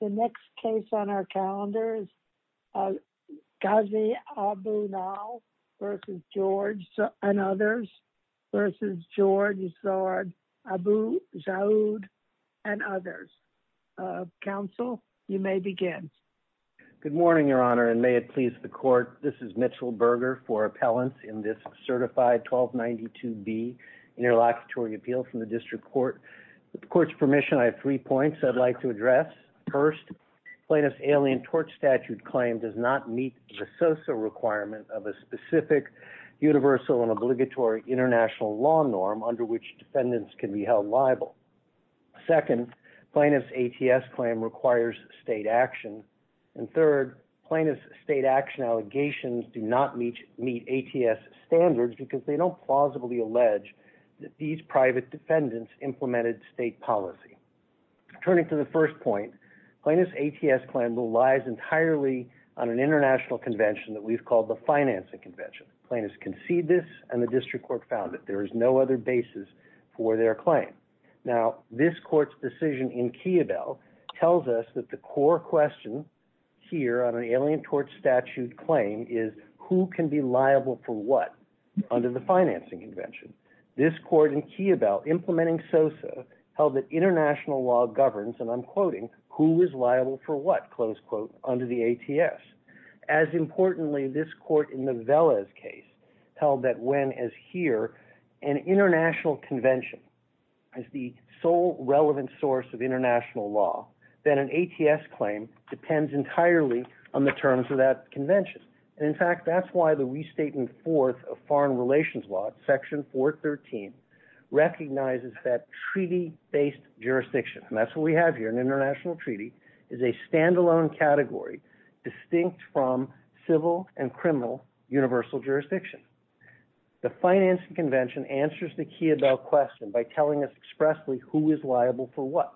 The next case on our calendar is Ghazi Abou Nahl v. George and others v. George Zard, Abou Jaoude, and others. Counsel, you may begin. Good morning, Your Honor, and may it please the Court, this is Mitchell Berger for appellants in this certified 1292B interlocutory appeal from the District Court. With the Court's permission, I have three points I'd like to address. First, plaintiff's Alien Tort Statute claim does not meet the SOSA requirement of a specific universal and obligatory international law norm under which defendants can be held liable. Second, plaintiff's ATS claim requires state action. And third, plaintiff's state action allegations do not meet ATS standards because they don't plausibly allege that these private defendants implemented state policy. Turning to the first point, plaintiff's ATS claim relies entirely on an international convention that we've called the Financing Convention. Plaintiffs concede this, and the District Court found that there is no other basis for their claim. Now, this Court's decision in Keebel tells us that the core question here on an Alien Tort Statute claim is who can be liable for what under the Financing Convention. This Court in Keebel, implementing SOSA, held that international law governs, and I'm quoting, who is liable for what, close quote, under the ATS. As importantly, this Court in the Velez case held that when, as here, an international convention is the sole relevant source of international law, then an ATS claim depends entirely on the terms of that convention. And in fact, that's why the restating fourth of foreign relations law, Section 413, recognizes that treaty-based jurisdiction, and that's what we have here, an international treaty, is a standalone category distinct from civil and criminal universal jurisdiction. The Financing Convention answers the Keebel question by telling us expressly who is liable for what.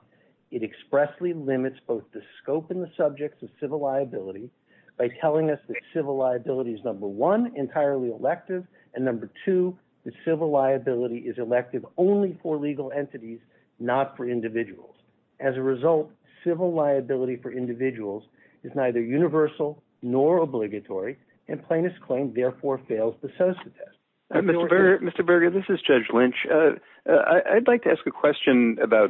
It expressly limits both the scope and the subjects of civil liability by telling us that civil liability is, number one, entirely elective, and number two, that civil liability is elective only for legal entities, not for individuals. As a result, civil liability for individuals is neither universal nor obligatory, and plaintiff's claim therefore fails the SOSA test. Mr. Berger, this is Judge Lynch. I'd like to ask a question about,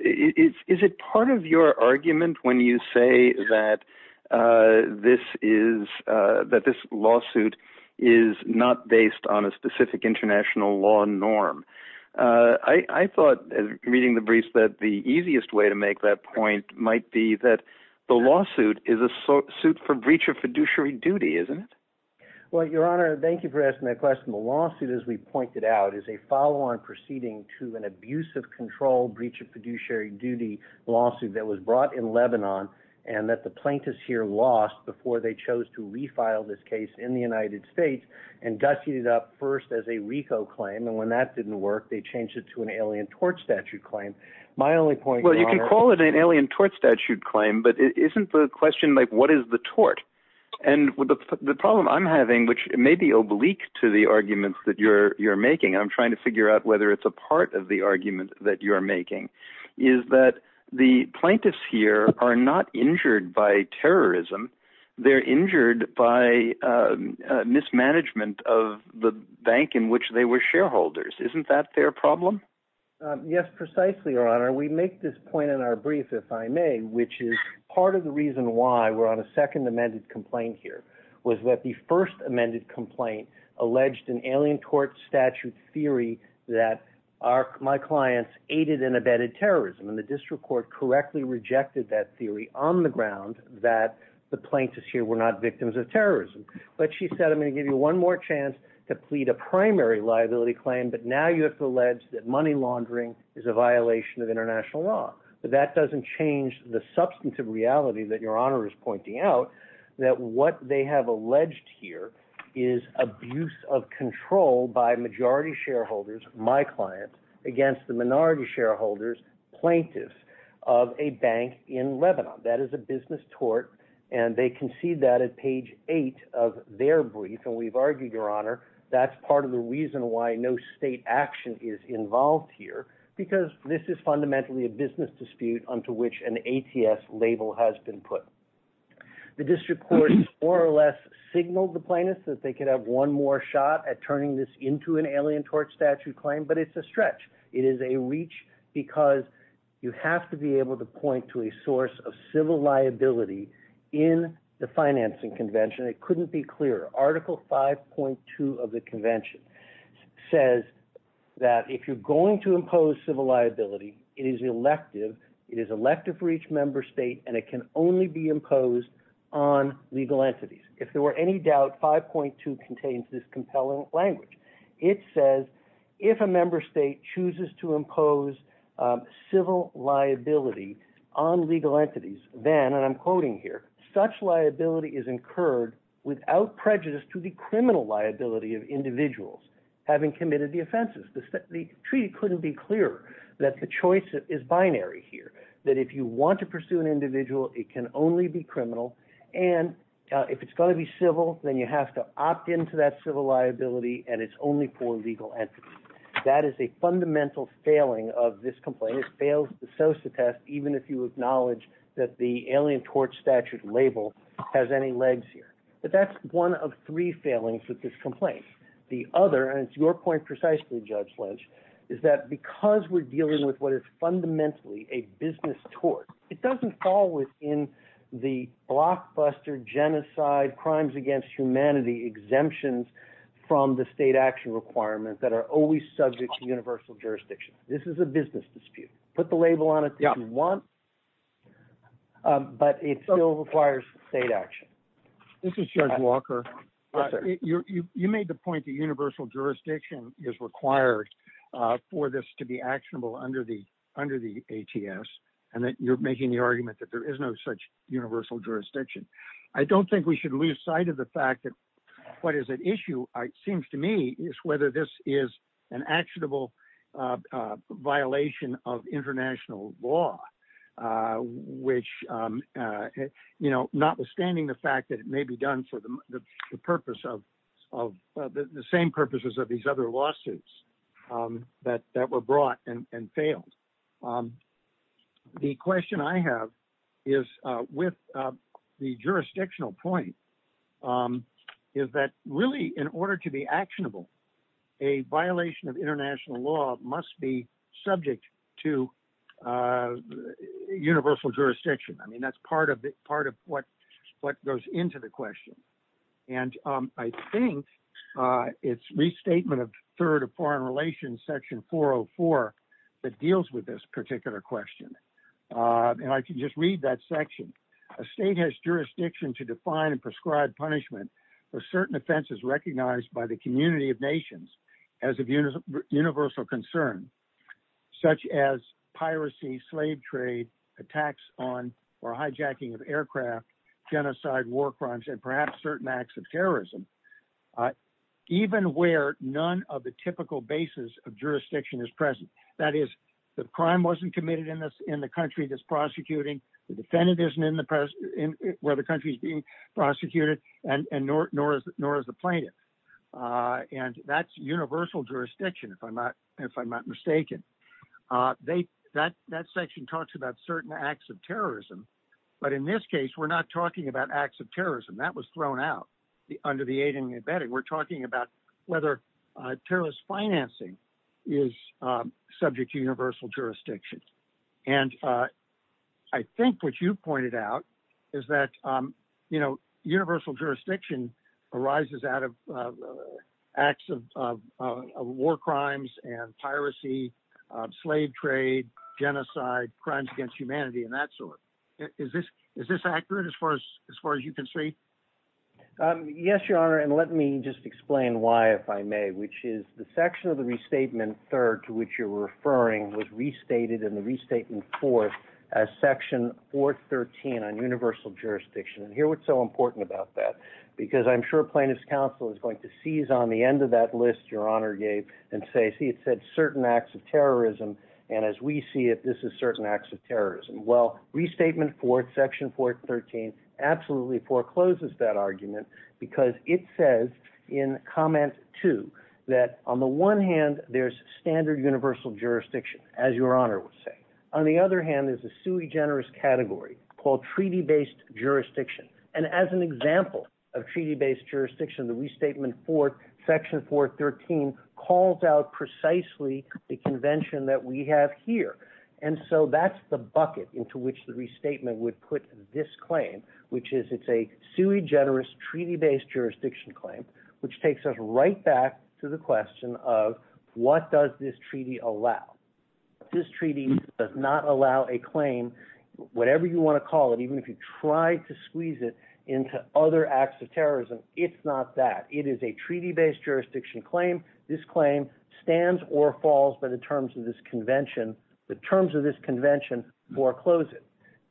is it part of your argument when you say that this lawsuit is not based on a specific international law norm? I thought, reading the briefs, that the easiest way to make that point might be that the lawsuit is a suit for breach of fiduciary duty, isn't it? Well, Your Honor, thank you for asking that question. The lawsuit, as we pointed out, is a follow-on proceeding to an abuse of control breach of fiduciary duty lawsuit that was brought in Lebanon and that the plaintiffs here lost before they chose to refile this case in the United States and dusted it up first as a RICO claim, and when that didn't work, they changed it to an alien tort statute claim. My only point, Your Honor- Well, you can call it an alien tort statute claim, but isn't the question like, what is the tort? And the problem I'm having, which may be oblique to the argument that you're making, and I'm trying to figure out whether it's a part of the argument that you're making, is that the plaintiffs here are not injured by terrorism, they're injured by mismanagement of the bank in which they were shareholders. Isn't that their problem? Yes, precisely, Your Honor. We make this point in our brief, if I may, which is part of the reason why we're on a second amended complaint here, was that the first amended complaint alleged an alien tort statute theory that my clients aided and abetted terrorism, and the district court correctly rejected that theory on the ground that the plaintiffs here were not victims of terrorism. But she said, I'm going to give you one more chance to plead a primary liability claim, but now you have to allege that money laundering is a violation of international law. But that doesn't change the substantive reality that Your Honor is pointing out, that what they have alleged here is abuse of control by majority shareholders, my clients, against the minority shareholders, plaintiffs, of a bank in Lebanon. That is a business tort, and they concede that at page eight of their brief, and we've argued, Your Honor, that's part of the reason why no state action is involved here, because this is fundamentally a business dispute unto which an ATS label has been put. The district court more or less signaled the plaintiffs that they could have one more shot at turning this into an alien tort statute claim, but it's a stretch. It is a reach because you have to be able to point to a source of civil liability in the financing convention. It couldn't be clearer. Article 5.2 of the convention says that if you're going to impose civil liability, it is elective. It is elective for each member state, and it can only be imposed on legal entities. If there were any doubt, 5.2 contains this compelling language. It says if a member state chooses to impose civil liability on legal entities, then, and to the criminal liability of individuals having committed the offenses. The treaty couldn't be clearer that the choice is binary here, that if you want to pursue an individual, it can only be criminal, and if it's going to be civil, then you have to opt into that civil liability, and it's only for legal entities. That is a fundamental failing of this complaint. It fails the SOSA test, even if you acknowledge that the alien tort statute label has any legs here. But that's one of three failings with this complaint. The other, and it's your point precisely, Judge Lynch, is that because we're dealing with what is fundamentally a business tort, it doesn't fall within the blockbuster genocide crimes against humanity exemptions from the state action requirements that are always subject to universal jurisdiction. This is a business dispute. Put the label on it if you want, but it still requires state action. This is Judge Walker. You made the point that universal jurisdiction is required for this to be actionable under the ATS, and that you're making the argument that there is no such universal jurisdiction. I don't think we should lose sight of the fact that what is at issue, it seems to me, is whether this is an actionable violation of international law, which notwithstanding the fact that it may be done for the same purposes of these other lawsuits that were brought and failed. The question I have is, with the jurisdictional point, is that really in order to be actionable, a violation of international law must be subject to universal jurisdiction. That's part of what goes into the question. I think it's restatement of third of foreign relations section 404 that deals with this particular question. I can just read that section. A state has jurisdiction to define and prescribe punishment for certain offenses recognized by the community of nations as of universal concern, such as piracy, slave trade, attacks on or hijacking of aircraft, genocide, war crimes, and perhaps certain acts of terrorism, even where none of the typical basis of jurisdiction is present. That is, the crime wasn't committed in the country that's prosecuting. The defendant isn't where the country is being prosecuted, nor is the plaintiff. That's universal jurisdiction, if I'm not mistaken. That section talks about certain acts of terrorism, but in this case, we're not talking about acts of terrorism. That was thrown out under the aid and abetting. We're talking about whether terrorist financing is subject to universal jurisdiction. I think what you pointed out is that universal jurisdiction arises out of acts of war crimes and piracy, slave trade, genocide, crimes against humanity, and that sort. Is this accurate as far as you can see? Yes, Your Honor, and let me just explain why, if I may, which is the section of the restatement third to which you're referring was restated in the restatement fourth as section 413 on universal jurisdiction. Here what's so important about that, because I'm sure plaintiff's counsel is going to and say, see, it said certain acts of terrorism, and as we see it, this is certain acts of terrorism. Well, restatement fourth, section 413, absolutely forecloses that argument because it says in comment two that on the one hand, there's standard universal jurisdiction, as Your Honor would say. On the other hand, there's a sui generis category called treaty-based jurisdiction, and as an precisely the convention that we have here, and so that's the bucket into which the restatement would put this claim, which is it's a sui generis treaty-based jurisdiction claim, which takes us right back to the question of what does this treaty allow? This treaty does not allow a claim, whatever you want to call it, even if you try to squeeze it into other acts of terrorism, it's not that. It is a treaty-based jurisdiction claim. This claim stands or falls by the terms of this convention, the terms of this convention foreclose it.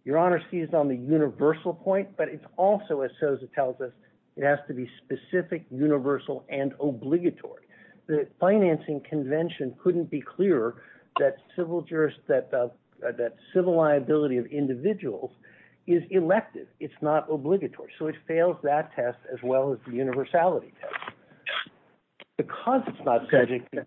Your Honor sees it on the universal point, but it's also, as Sosa tells us, it has to be specific, universal, and obligatory. The financing convention couldn't be clearer that civil liability of individuals is elective. It's not obligatory. It fails that test as well as the universality test. Because it's not subject to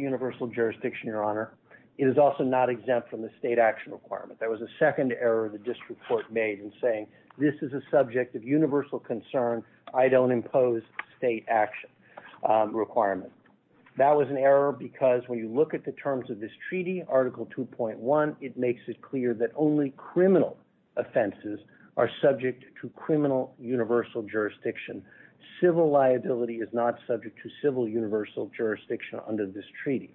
universal jurisdiction, Your Honor, it is also not exempt from the state action requirement. There was a second error the district court made in saying this is a subject of universal concern. I don't impose state action requirement. That was an error because when you look at the terms of this treaty, article 2.1, it makes it clear that only criminal offenses are subject to criminal universal jurisdiction. Civil liability is not subject to civil universal jurisdiction under this treaty.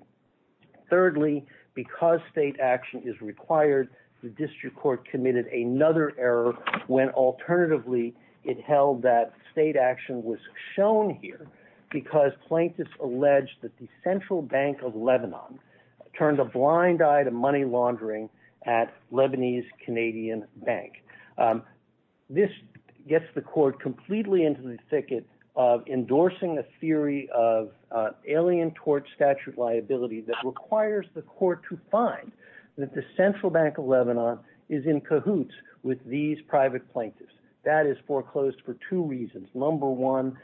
Thirdly, because state action is required, the district court committed another error when alternatively it held that state action was shown here because plaintiffs alleged that the Central Bank of Lebanon turned a blind eye to money laundering at Lebanese Canadian Bank. This gets the court completely into the thicket of endorsing a theory of alien tort statute liability that requires the court to find that the Central Bank of Lebanon is in cahoots with these private plaintiffs. That is foreclosed for two reasons. Number one,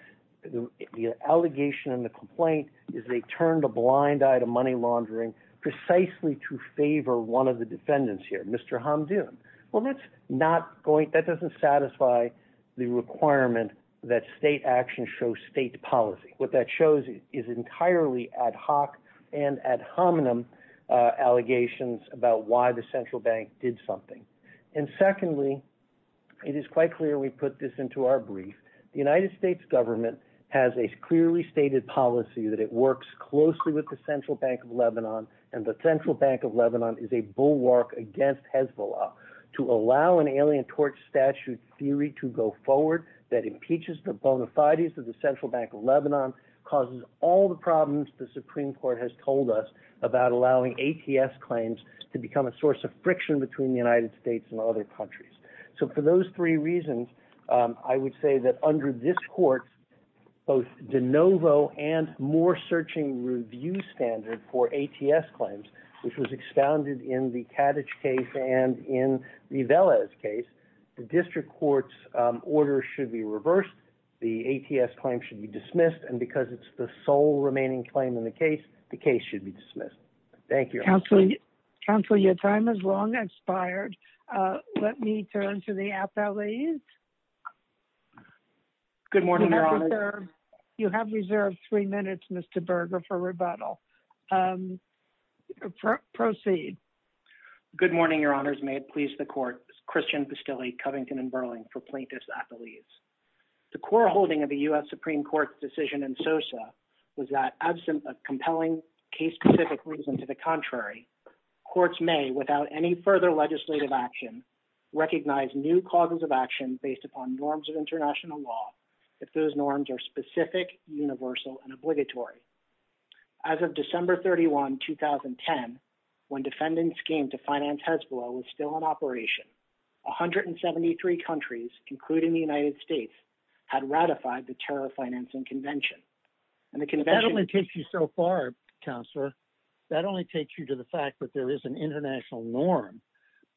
the allegation and the complaint is they turned a blind eye to money laundering precisely to favor one of the defendants here, Mr. Hamdoun. That doesn't satisfy the requirement that state action shows state policy. What that shows is entirely ad hoc and ad hominem allegations about why the Central Bank did something. Secondly, it is quite clear we put this into our brief. The United States government has a clearly stated policy that it works closely with the Central Bank of Lebanon, and the Central Bank of Lebanon is a bulwark against Hezbollah. To allow an alien tort statute theory to go forward that impeaches the bona fides of the Central Bank of Lebanon causes all the problems the Supreme Court has told us about allowing ATS claims to become a source of friction between the United States and other countries. So for those three reasons, I would say that under this court, both de novo and more searching review standard for ATS claims, which was expounded in the Kaddish case and in Rivelez case, the district court's order should be reversed. The ATS claim should be dismissed. And because it's the sole remaining claim in the case, the case should be dismissed. Thank you. Counselor, your time has long expired. Let me turn to the athletes. Good morning, Your Honor. You have reserved three minutes, Mr. Berger, for rebuttal. Proceed. Good morning, Your Honors. May it please the court. Christian Pastilli, Covington & Burling for plaintiff's athletes. The core holding of the U.S. Supreme Court's decision in Sosa was that, and to the contrary, courts may, without any further legislative action, recognize new causes of action based upon norms of international law, if those norms are specific, universal, and obligatory. As of December 31, 2010, when defendants came to finance Hezbollah was still in operation, 173 countries, including the United States, had ratified the terror financing convention. And the convention- That only takes you so far, Counselor. That only takes you to the fact that there is an international norm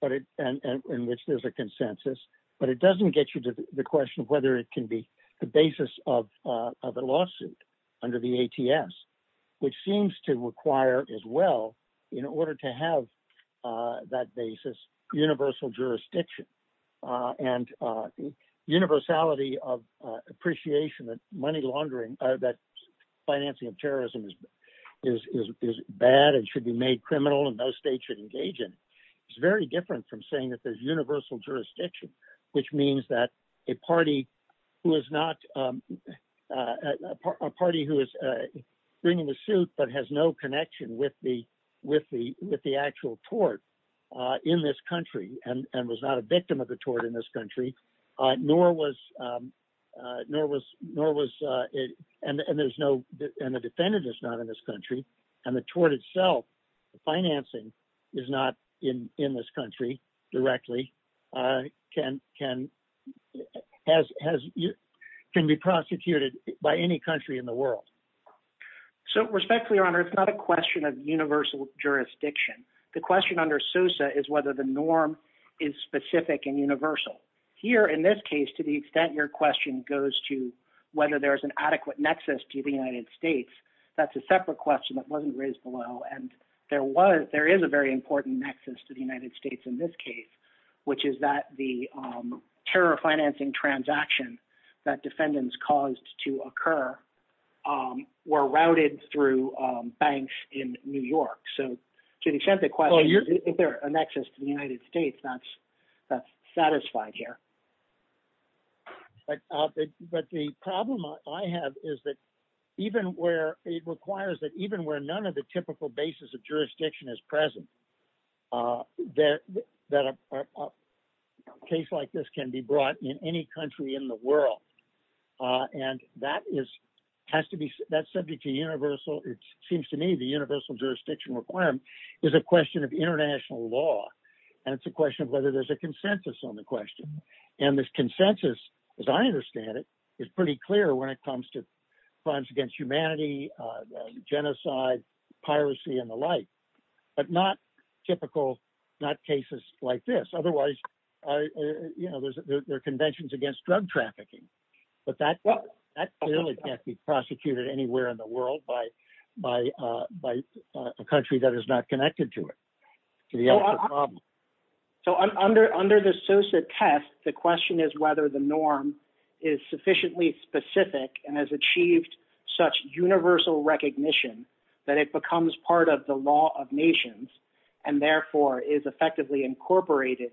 in which there's a consensus, but it doesn't get you to the question of whether it can be the basis of a lawsuit under the ATS, which seems to require as well, in order to have that basis, universal jurisdiction and universality of appreciation that financing of terrorism is bad and should be made criminal and no state should engage in it. It's very different from saying that there's universal jurisdiction, which means that a party who is bringing the suit but has no connection with the actual tort in this country and was not a victim of the tort in this country, nor was, and there's no, and the defendant is not in this country, and the tort itself, the financing is not in this country directly, can be prosecuted by any country in the world. So respectfully, Your Honor, it's not a question of universal jurisdiction. The question under SOSA is whether the norm is specific and universal. Here, in this case, to the extent your question goes to whether there's an adequate nexus to the United States, that's a separate question that wasn't raised below, and there is a very important nexus to the United States in this case, which is that the terror financing transaction that defendants caused to occur were routed through banks in New York. So to the extent the question, is there a nexus to the United States, that's satisfied here. But the problem I have is that even where it requires that even where none of the typical basis of jurisdiction is present, that a case like this can be brought in any country in the world, and that subject to universal, it seems to me, the universal jurisdiction requirement is a question of international law, and it's a question of whether there's a consensus on the question. And this consensus, as I understand it, is pretty clear when it comes to crimes against humanity, genocide, piracy, and the like, but not typical, not cases like this. You know, there are conventions against drug trafficking, but that really can't be prosecuted anywhere in the world by a country that is not connected to it. So under the Sosa test, the question is whether the norm is sufficiently specific and has achieved such universal recognition that it becomes part of the law of nations, and therefore is effectively incorporated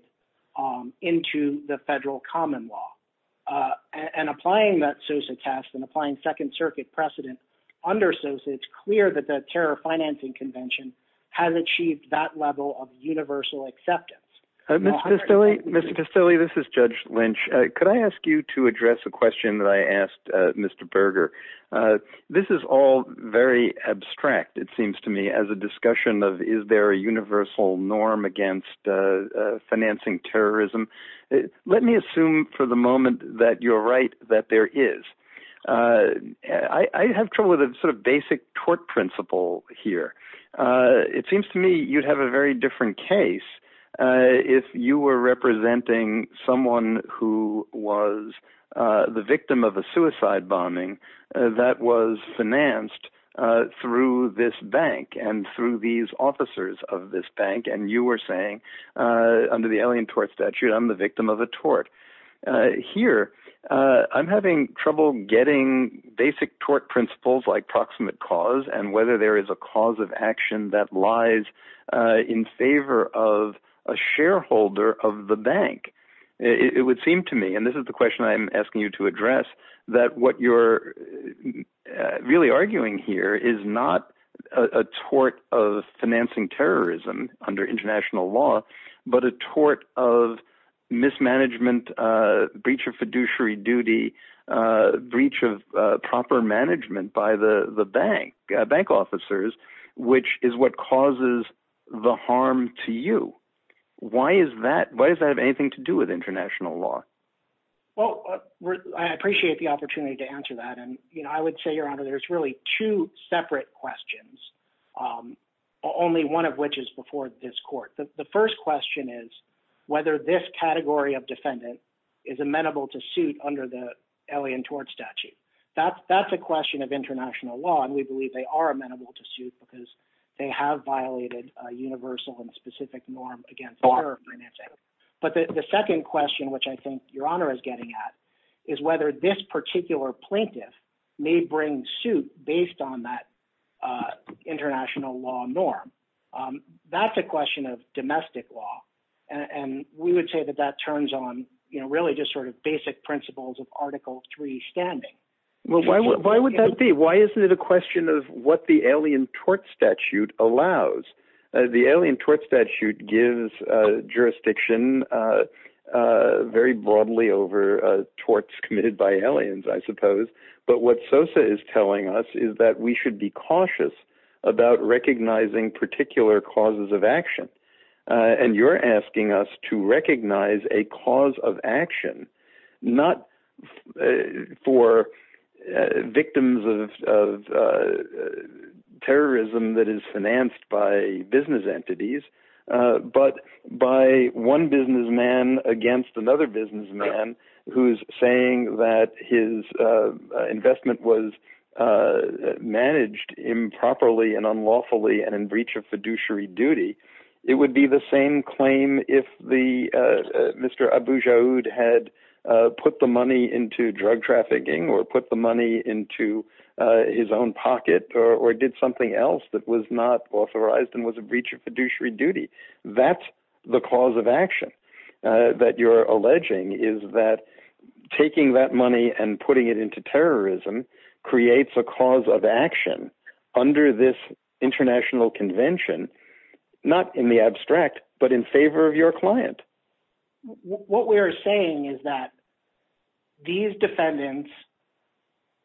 into the federal common law. And applying that Sosa test and applying Second Circuit precedent under Sosa, it's clear that the Terror Financing Convention has achieved that level of universal acceptance. Mr. Castelli, this is Judge Lynch. Could I ask you to address a question that I asked Mr. Berger? This is all very abstract, it seems to me, as a discussion of is there a let me assume for the moment that you're right, that there is. I have trouble with the sort of basic tort principle here. It seems to me you'd have a very different case if you were representing someone who was the victim of a suicide bombing that was financed through this bank and through these officers of this bank, and you were saying under the Alien Tort Statute, I'm the victim of a tort. Here, I'm having trouble getting basic tort principles like proximate cause and whether there is a cause of action that lies in favor of a shareholder of the bank. It would seem to me, and this is the question I'm asking you to address, that what you're really arguing here is not a tort of financing terrorism under international law, but a tort of mismanagement, breach of fiduciary duty, breach of proper management by the bank officers, which is what causes the harm to you. Why does that have anything to do with international law? Well, I appreciate the opportunity to answer that, and I would say, Your Honor, there's really two separate questions, only one of which is before this court. The first question is whether this category of defendant is amenable to suit under the Alien Tort Statute. That's a question of international law, and we believe they are amenable to suit because they have violated a universal and specific norm against terror financing. But the second question, which I think Your Honor is getting at, is whether this particular plaintiff may bring suit based on that international law norm. That's a question of domestic law, and we would say that that turns on really just basic principles of Article III standing. Well, why would that be? Why isn't it a question of what the Alien Tort Statute allows? The Alien Tort Statute gives jurisdiction very broadly over torts committed by aliens, I suppose. But what Sosa is telling us is that we should be cautious about recognizing particular causes of action, and you're asking us to recognize a cause of action, not for victims of terrorism that is financed by business entities, but by one businessman against another businessman who's saying that his investment was managed improperly and unlawfully and in breach of fiduciary duty. It would be the same claim if Mr. Abujaoud had put the money into drug trafficking or put the money into his own That's the cause of action that you're alleging is that taking that money and putting it into terrorism creates a cause of action under this international convention, not in the abstract, but in favor of your client. What we are saying is that these defendants,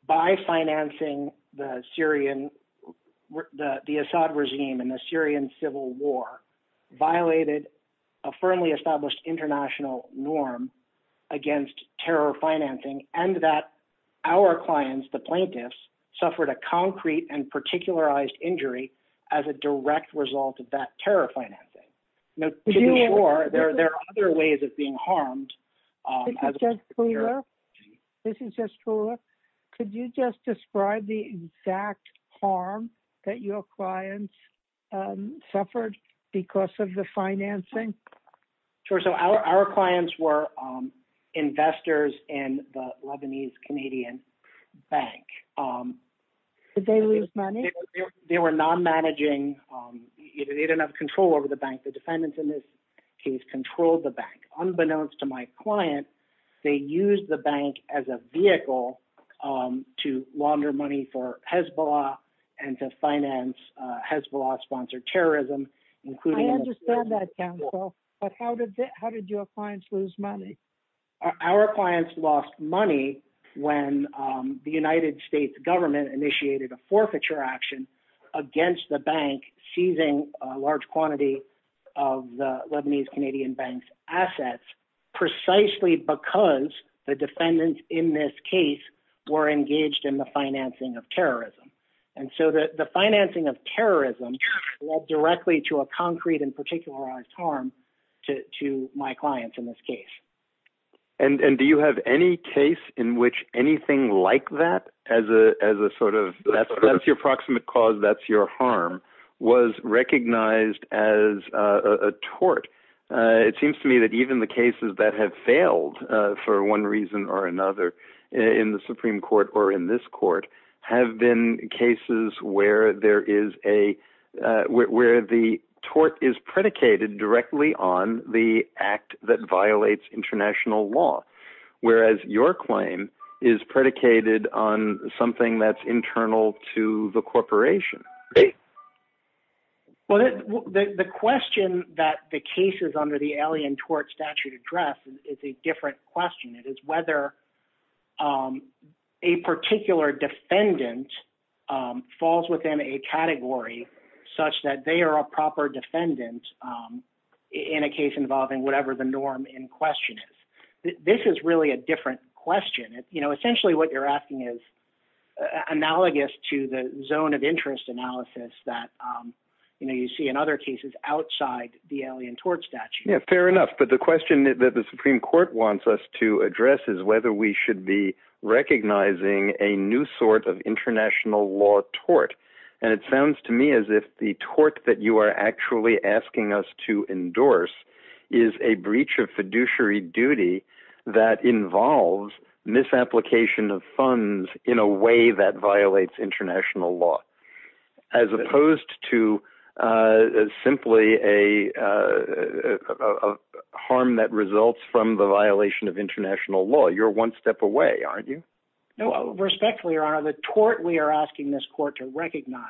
by financing the Assad regime in the Syrian Civil War, violated a firmly established international norm against terror financing, and that our clients, the plaintiffs, suffered a concrete and particularized injury as a direct result of that terror financing. Now, there are other ways of being harmed. This is Jess Cooler. Could you just describe the exact harm that your clients suffered because of the financing? Sure. So our clients were investors in the Lebanese-Canadian Bank. Did they lose money? They were non-managing. They didn't have control over the bank. The defendants in this case controlled the bank. Unbeknownst to my client, they used the bank as a vehicle to launder money for Hezbollah and to finance Hezbollah-sponsored terrorism, including- I understand that, counsel, but how did your clients lose money? Our clients lost money when the United States government initiated a forfeiture action against the bank seizing a large quantity of the Lebanese-Canadian Bank's assets, precisely because the defendants in this case were engaged in the financing of terrorism. And so the financing of terrorism led directly to a concrete and particularized harm to my clients in this case. And do you have any case in which anything like that, as a sort of, that's your approximate cause, that's your harm, was recognized as a tort? It seems to me that even the cases that have failed for one reason or another in the Supreme Court or in this court have been cases where there is a- law, whereas your claim is predicated on something that's internal to the corporation. Well, the question that the cases under the Alien Tort Statute address is a different question. It is whether a particular defendant falls within a category such that they are a proper defendant in a case involving whatever the norm in question is. This is really a different question. Essentially what you're asking is analogous to the zone of interest analysis that you see in other cases outside the Alien Tort Statute. Yeah, fair enough. But the question that the Supreme Court wants us to address is whether we should be recognizing a new sort of international law tort. And it sounds to me as if the tort that you are actually asking us to endorse is a breach of fiduciary duty that involves misapplication of funds in a way that violates international law, as opposed to simply a harm that results from the violation of international law. You're one step away, aren't you? Respectfully, Your Honor, the tort we are asking this court to recognize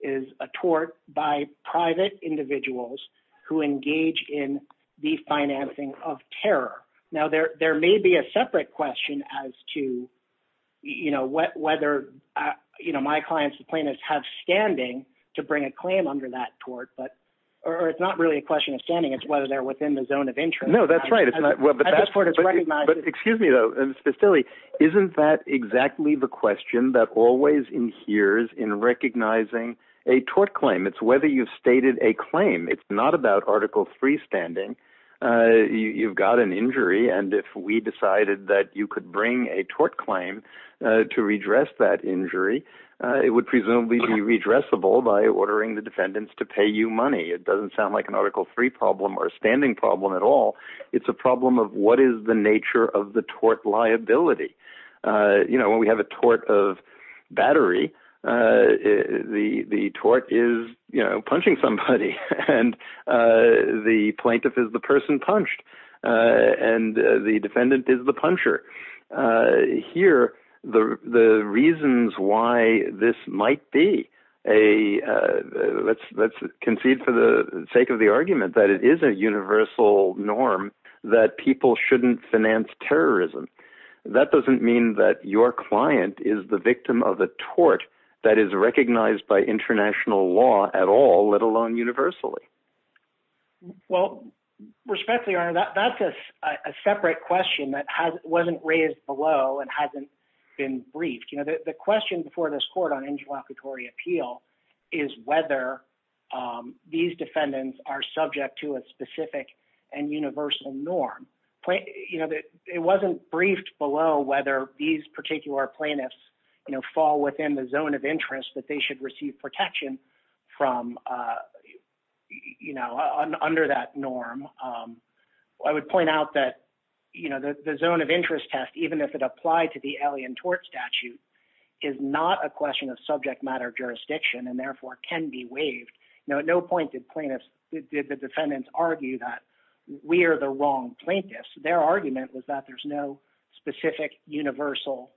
is a tort by private individuals who engage in the financing of terror. Now, there may be a separate question as to whether my clients, the plaintiffs, have standing to bring a claim under that tort, or it's not really a question of standing, it's whether they're within the zone of interest. No, that's right. But excuse me though, Mr. Stille, isn't that exactly the question that always inheres in recognizing a tort claim? It's whether you've stated a claim. It's not about Article III standing. You've got an injury, and if we decided that you could bring a tort claim to redress that injury, it would presumably be redressable by ordering the defendants to pay you money. It doesn't sound like an Article III problem or a standing problem at all. It's a problem of what is the nature of the tort liability. When we have a tort of battery, the tort is punching somebody, and the plaintiff is the person punched, and the defendant is the puncher. Here, the reasons why this might be a... Let's concede for the sake of the argument that it is a universal norm that people shouldn't finance terrorism. That doesn't mean that your client is the victim of a tort that is recognized by international law at all, let alone universally. Well, respectfully, Your Honor, that's a separate question that wasn't raised below and hasn't been briefed. The question before this court on interlocutory appeal is whether these defendants are subject to a specific and universal norm. It wasn't briefed below whether these particular plaintiffs fall within the zone of interest that they should receive protection from under that norm. I would point out that the zone of interest test, even if it applied to the Alien Tort Statute, is not a question of subject matter jurisdiction and can be waived. At no point did the defendants argue that we are the wrong plaintiffs. Their argument was that there's no specific universal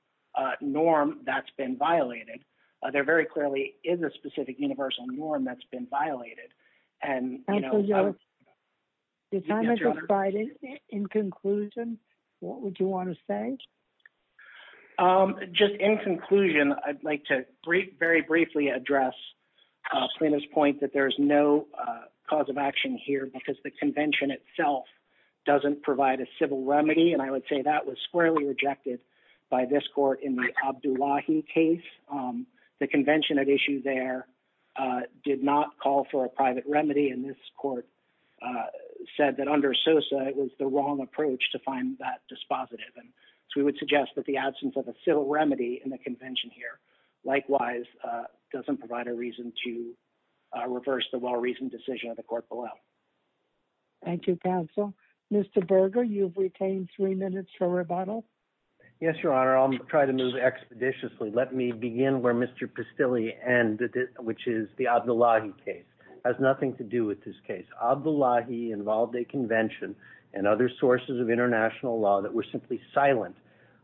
norm that's been violated. There very clearly is a specific universal norm that's been violated. The time has expired. In conclusion, what would you want to say? Just in conclusion, I'd like to very briefly address Plaintiff's point that there's no cause of action here because the convention itself doesn't provide a civil remedy. I would say that was squarely rejected by this court in the Abdullahi case. The convention at issue there did not call for a private remedy. This court said that under SOSA, it was the wrong approach to find that dispositive. We would suggest that the absence of a civil remedy in the convention here, likewise, doesn't provide a reason to reverse the well-reasoned decision of the court below. Thank you, counsel. Mr. Berger, you've retained three minutes for rebuttal. Yes, Your Honor. I'll try to move expeditiously. Let me begin where Mr. Pastilli ended, which is the Abdullahi case. It has nothing to do with this Abdullahi-involved convention and other sources of international law that were simply silent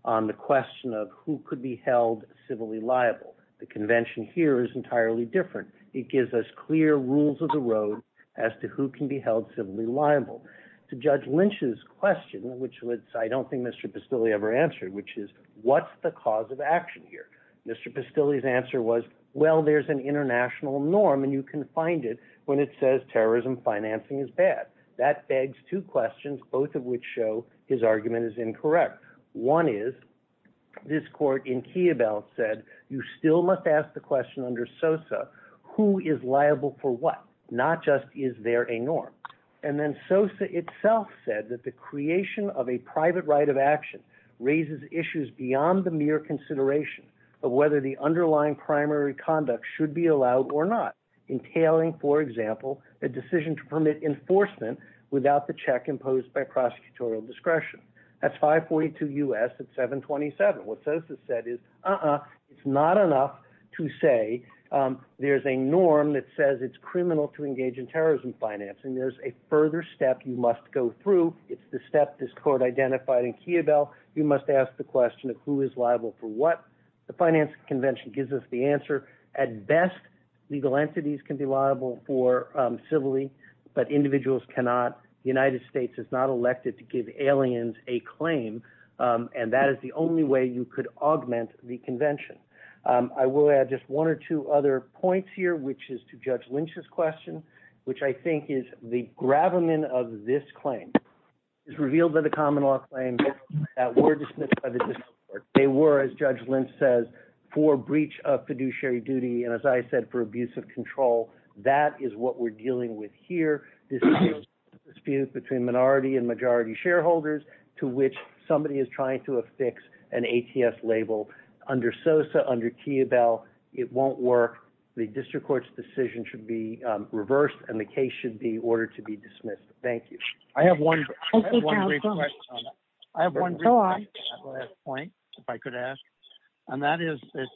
on the question of who could be held civilly liable. The convention here is entirely different. It gives us clear rules of the road as to who can be held civilly liable. To Judge Lynch's question, which I don't think Mr. Pastilli ever answered, which is, what's the cause of action here? Mr. Pastilli's answer was, well, there's an international norm, and you can find it when it says terrorism financing is bad. That begs two questions, both of which show his argument is incorrect. One is, this court in Kiyobel said, you still must ask the question under SOSA, who is liable for what? Not just, is there a norm? And then SOSA itself said that the creation of a private right of action raises issues beyond the mere consideration of whether the underlying primary conduct should be allowed or not, entailing, for example, a decision to permit enforcement without the check imposed by prosecutorial discretion. That's 542 U.S. at 727. What SOSA said is, uh-uh, it's not enough to say there's a norm that says it's criminal to engage in terrorism financing. There's a further step you must go through. It's the step this court identified in Kiyobel. You must ask the question of who is liable for what. The finance convention gives us the answer. At best, legal entities can be liable for civilly, but individuals cannot. The United States is not elected to give aliens a claim, and that is the only way you could augment the convention. I will add just one or two other points here, which is to Judge Lynch's question, which I think is the gravamen of this claim. It's revealed that the common law claims that were as Judge Lynch says, for breach of fiduciary duty, and as I said, for abuse of control, that is what we're dealing with here. This is a dispute between minority and majority shareholders to which somebody is trying to affix an ATS label. Under SOSA, under Kiyobel, it won't work. The district court's decision should be reversed, and the case should be ordered to be dismissed. Thank you. I have one brief question on that. I have one brief question on that last point, if I could ask, and that is that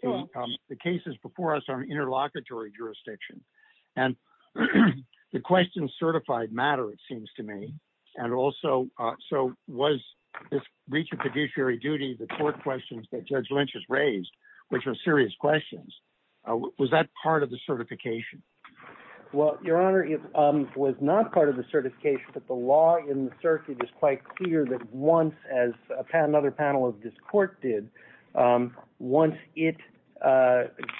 the cases before us are in interlocutory jurisdiction, and the questions certified matter, it seems to me. Also, was this breach of fiduciary duty, the court questions that Judge Lynch has raised, which are serious questions, was that part of the certification? Your Honor, it was not part of the certification, but the law in the circuit is quite clear that once, as another panel of this court did, once it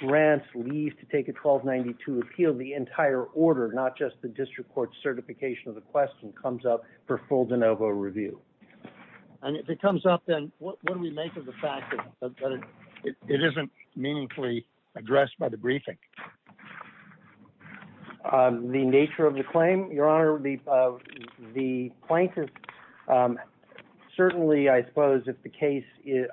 grants leave to take a 1292 appeal, the entire order, not just the district court's certification of the question, comes up for full de novo review. If it comes up, then what do we make of the fact that it isn't meaningfully addressed by the briefing? The nature of the plaintiff, certainly, I suppose, if the case,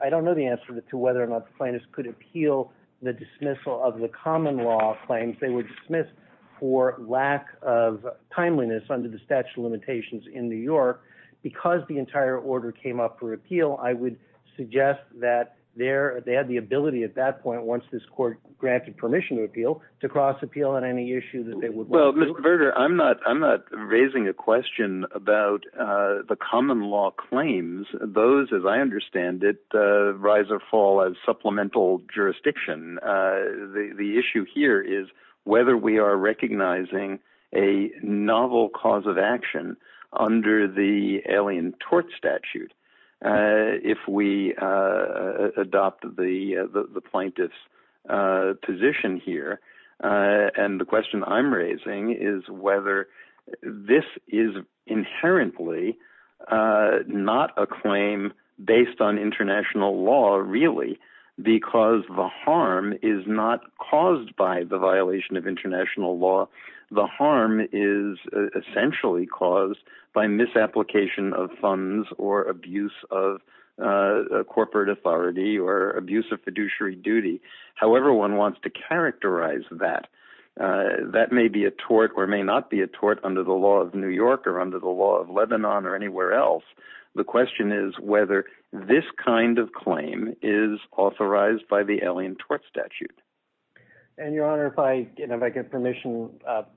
I don't know the answer to whether or not the plaintiff could appeal the dismissal of the common law claims. They were dismissed for lack of timeliness under the statute of limitations in New York. Because the entire order came up for appeal, I would suggest that they had the ability at that point, once this court granted permission to appeal, to cross-appeal on any issue that they would want. Well, Mr. Berger, I'm not raising a question about the common law claims. Those, as I understand it, rise or fall as supplemental jurisdiction. The issue here is whether we are recognizing a novel cause of action under the alien tort statute. If we adopt the plaintiff's position here, and the question I'm raising is whether this is inherently not a claim based on international law, really, because the harm is not caused by the violation of international law. The harm is essentially caused by misapplication of funds or abuse of corporate authority or abuse of fiduciary duty. However, one wants to characterize that. That may be a tort or may not be a tort under the law of New York or under the law of Lebanon or anywhere else. The question is whether this kind of claim is authorized by the alien tort statute. And, Your Honor, if I get permission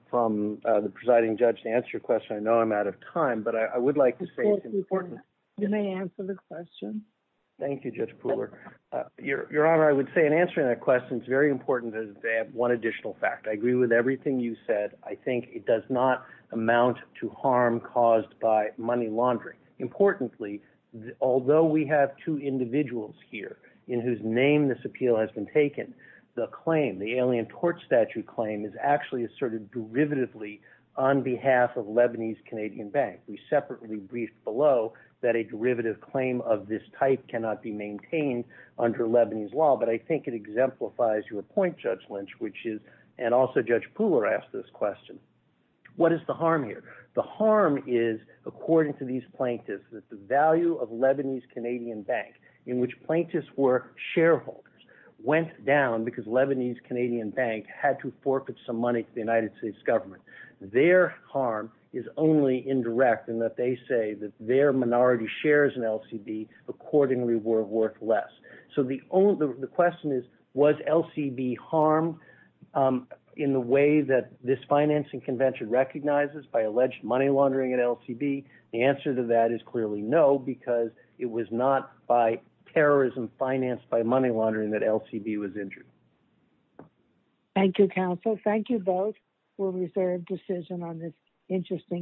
from the presiding judge to answer your question, I know I'm out of time, but I would like to say it's important. You may answer the question. Thank you, Judge Pooler. Your Honor, I would say in answering that question, it's very important that they have one additional fact. I agree with everything you said. I think it does not amount to harm caused by money laundering. Importantly, although we have two individuals here in whose name this appeal has been taken, the claim, the alien tort statute claim is actually asserted derivatively on behalf of Lebanese Canadian Bank. We separately briefed below that a derivative claim of this type cannot be maintained under Lebanese law, but I think it exemplifies your point, Judge Lynch, and also Judge Pooler asked this question. What is the harm here? The harm is, according to these plaintiffs, that the value of Lebanese Canadian Bank, in which plaintiffs were shareholders, went down because Lebanese Canadian Bank had to forfeit some money to the United States government. Their harm is only indirect in that they say that their minority shares in LCB accordingly were worth less. The question is, was LCB harmed in the way that this financing convention recognizes by alleged money laundering at LCB? The answer to that is clearly no, because it was not by terrorism financed by money laundering that LCB was injured. Thank you, counsel. Thank you both for a reserved decision on this interesting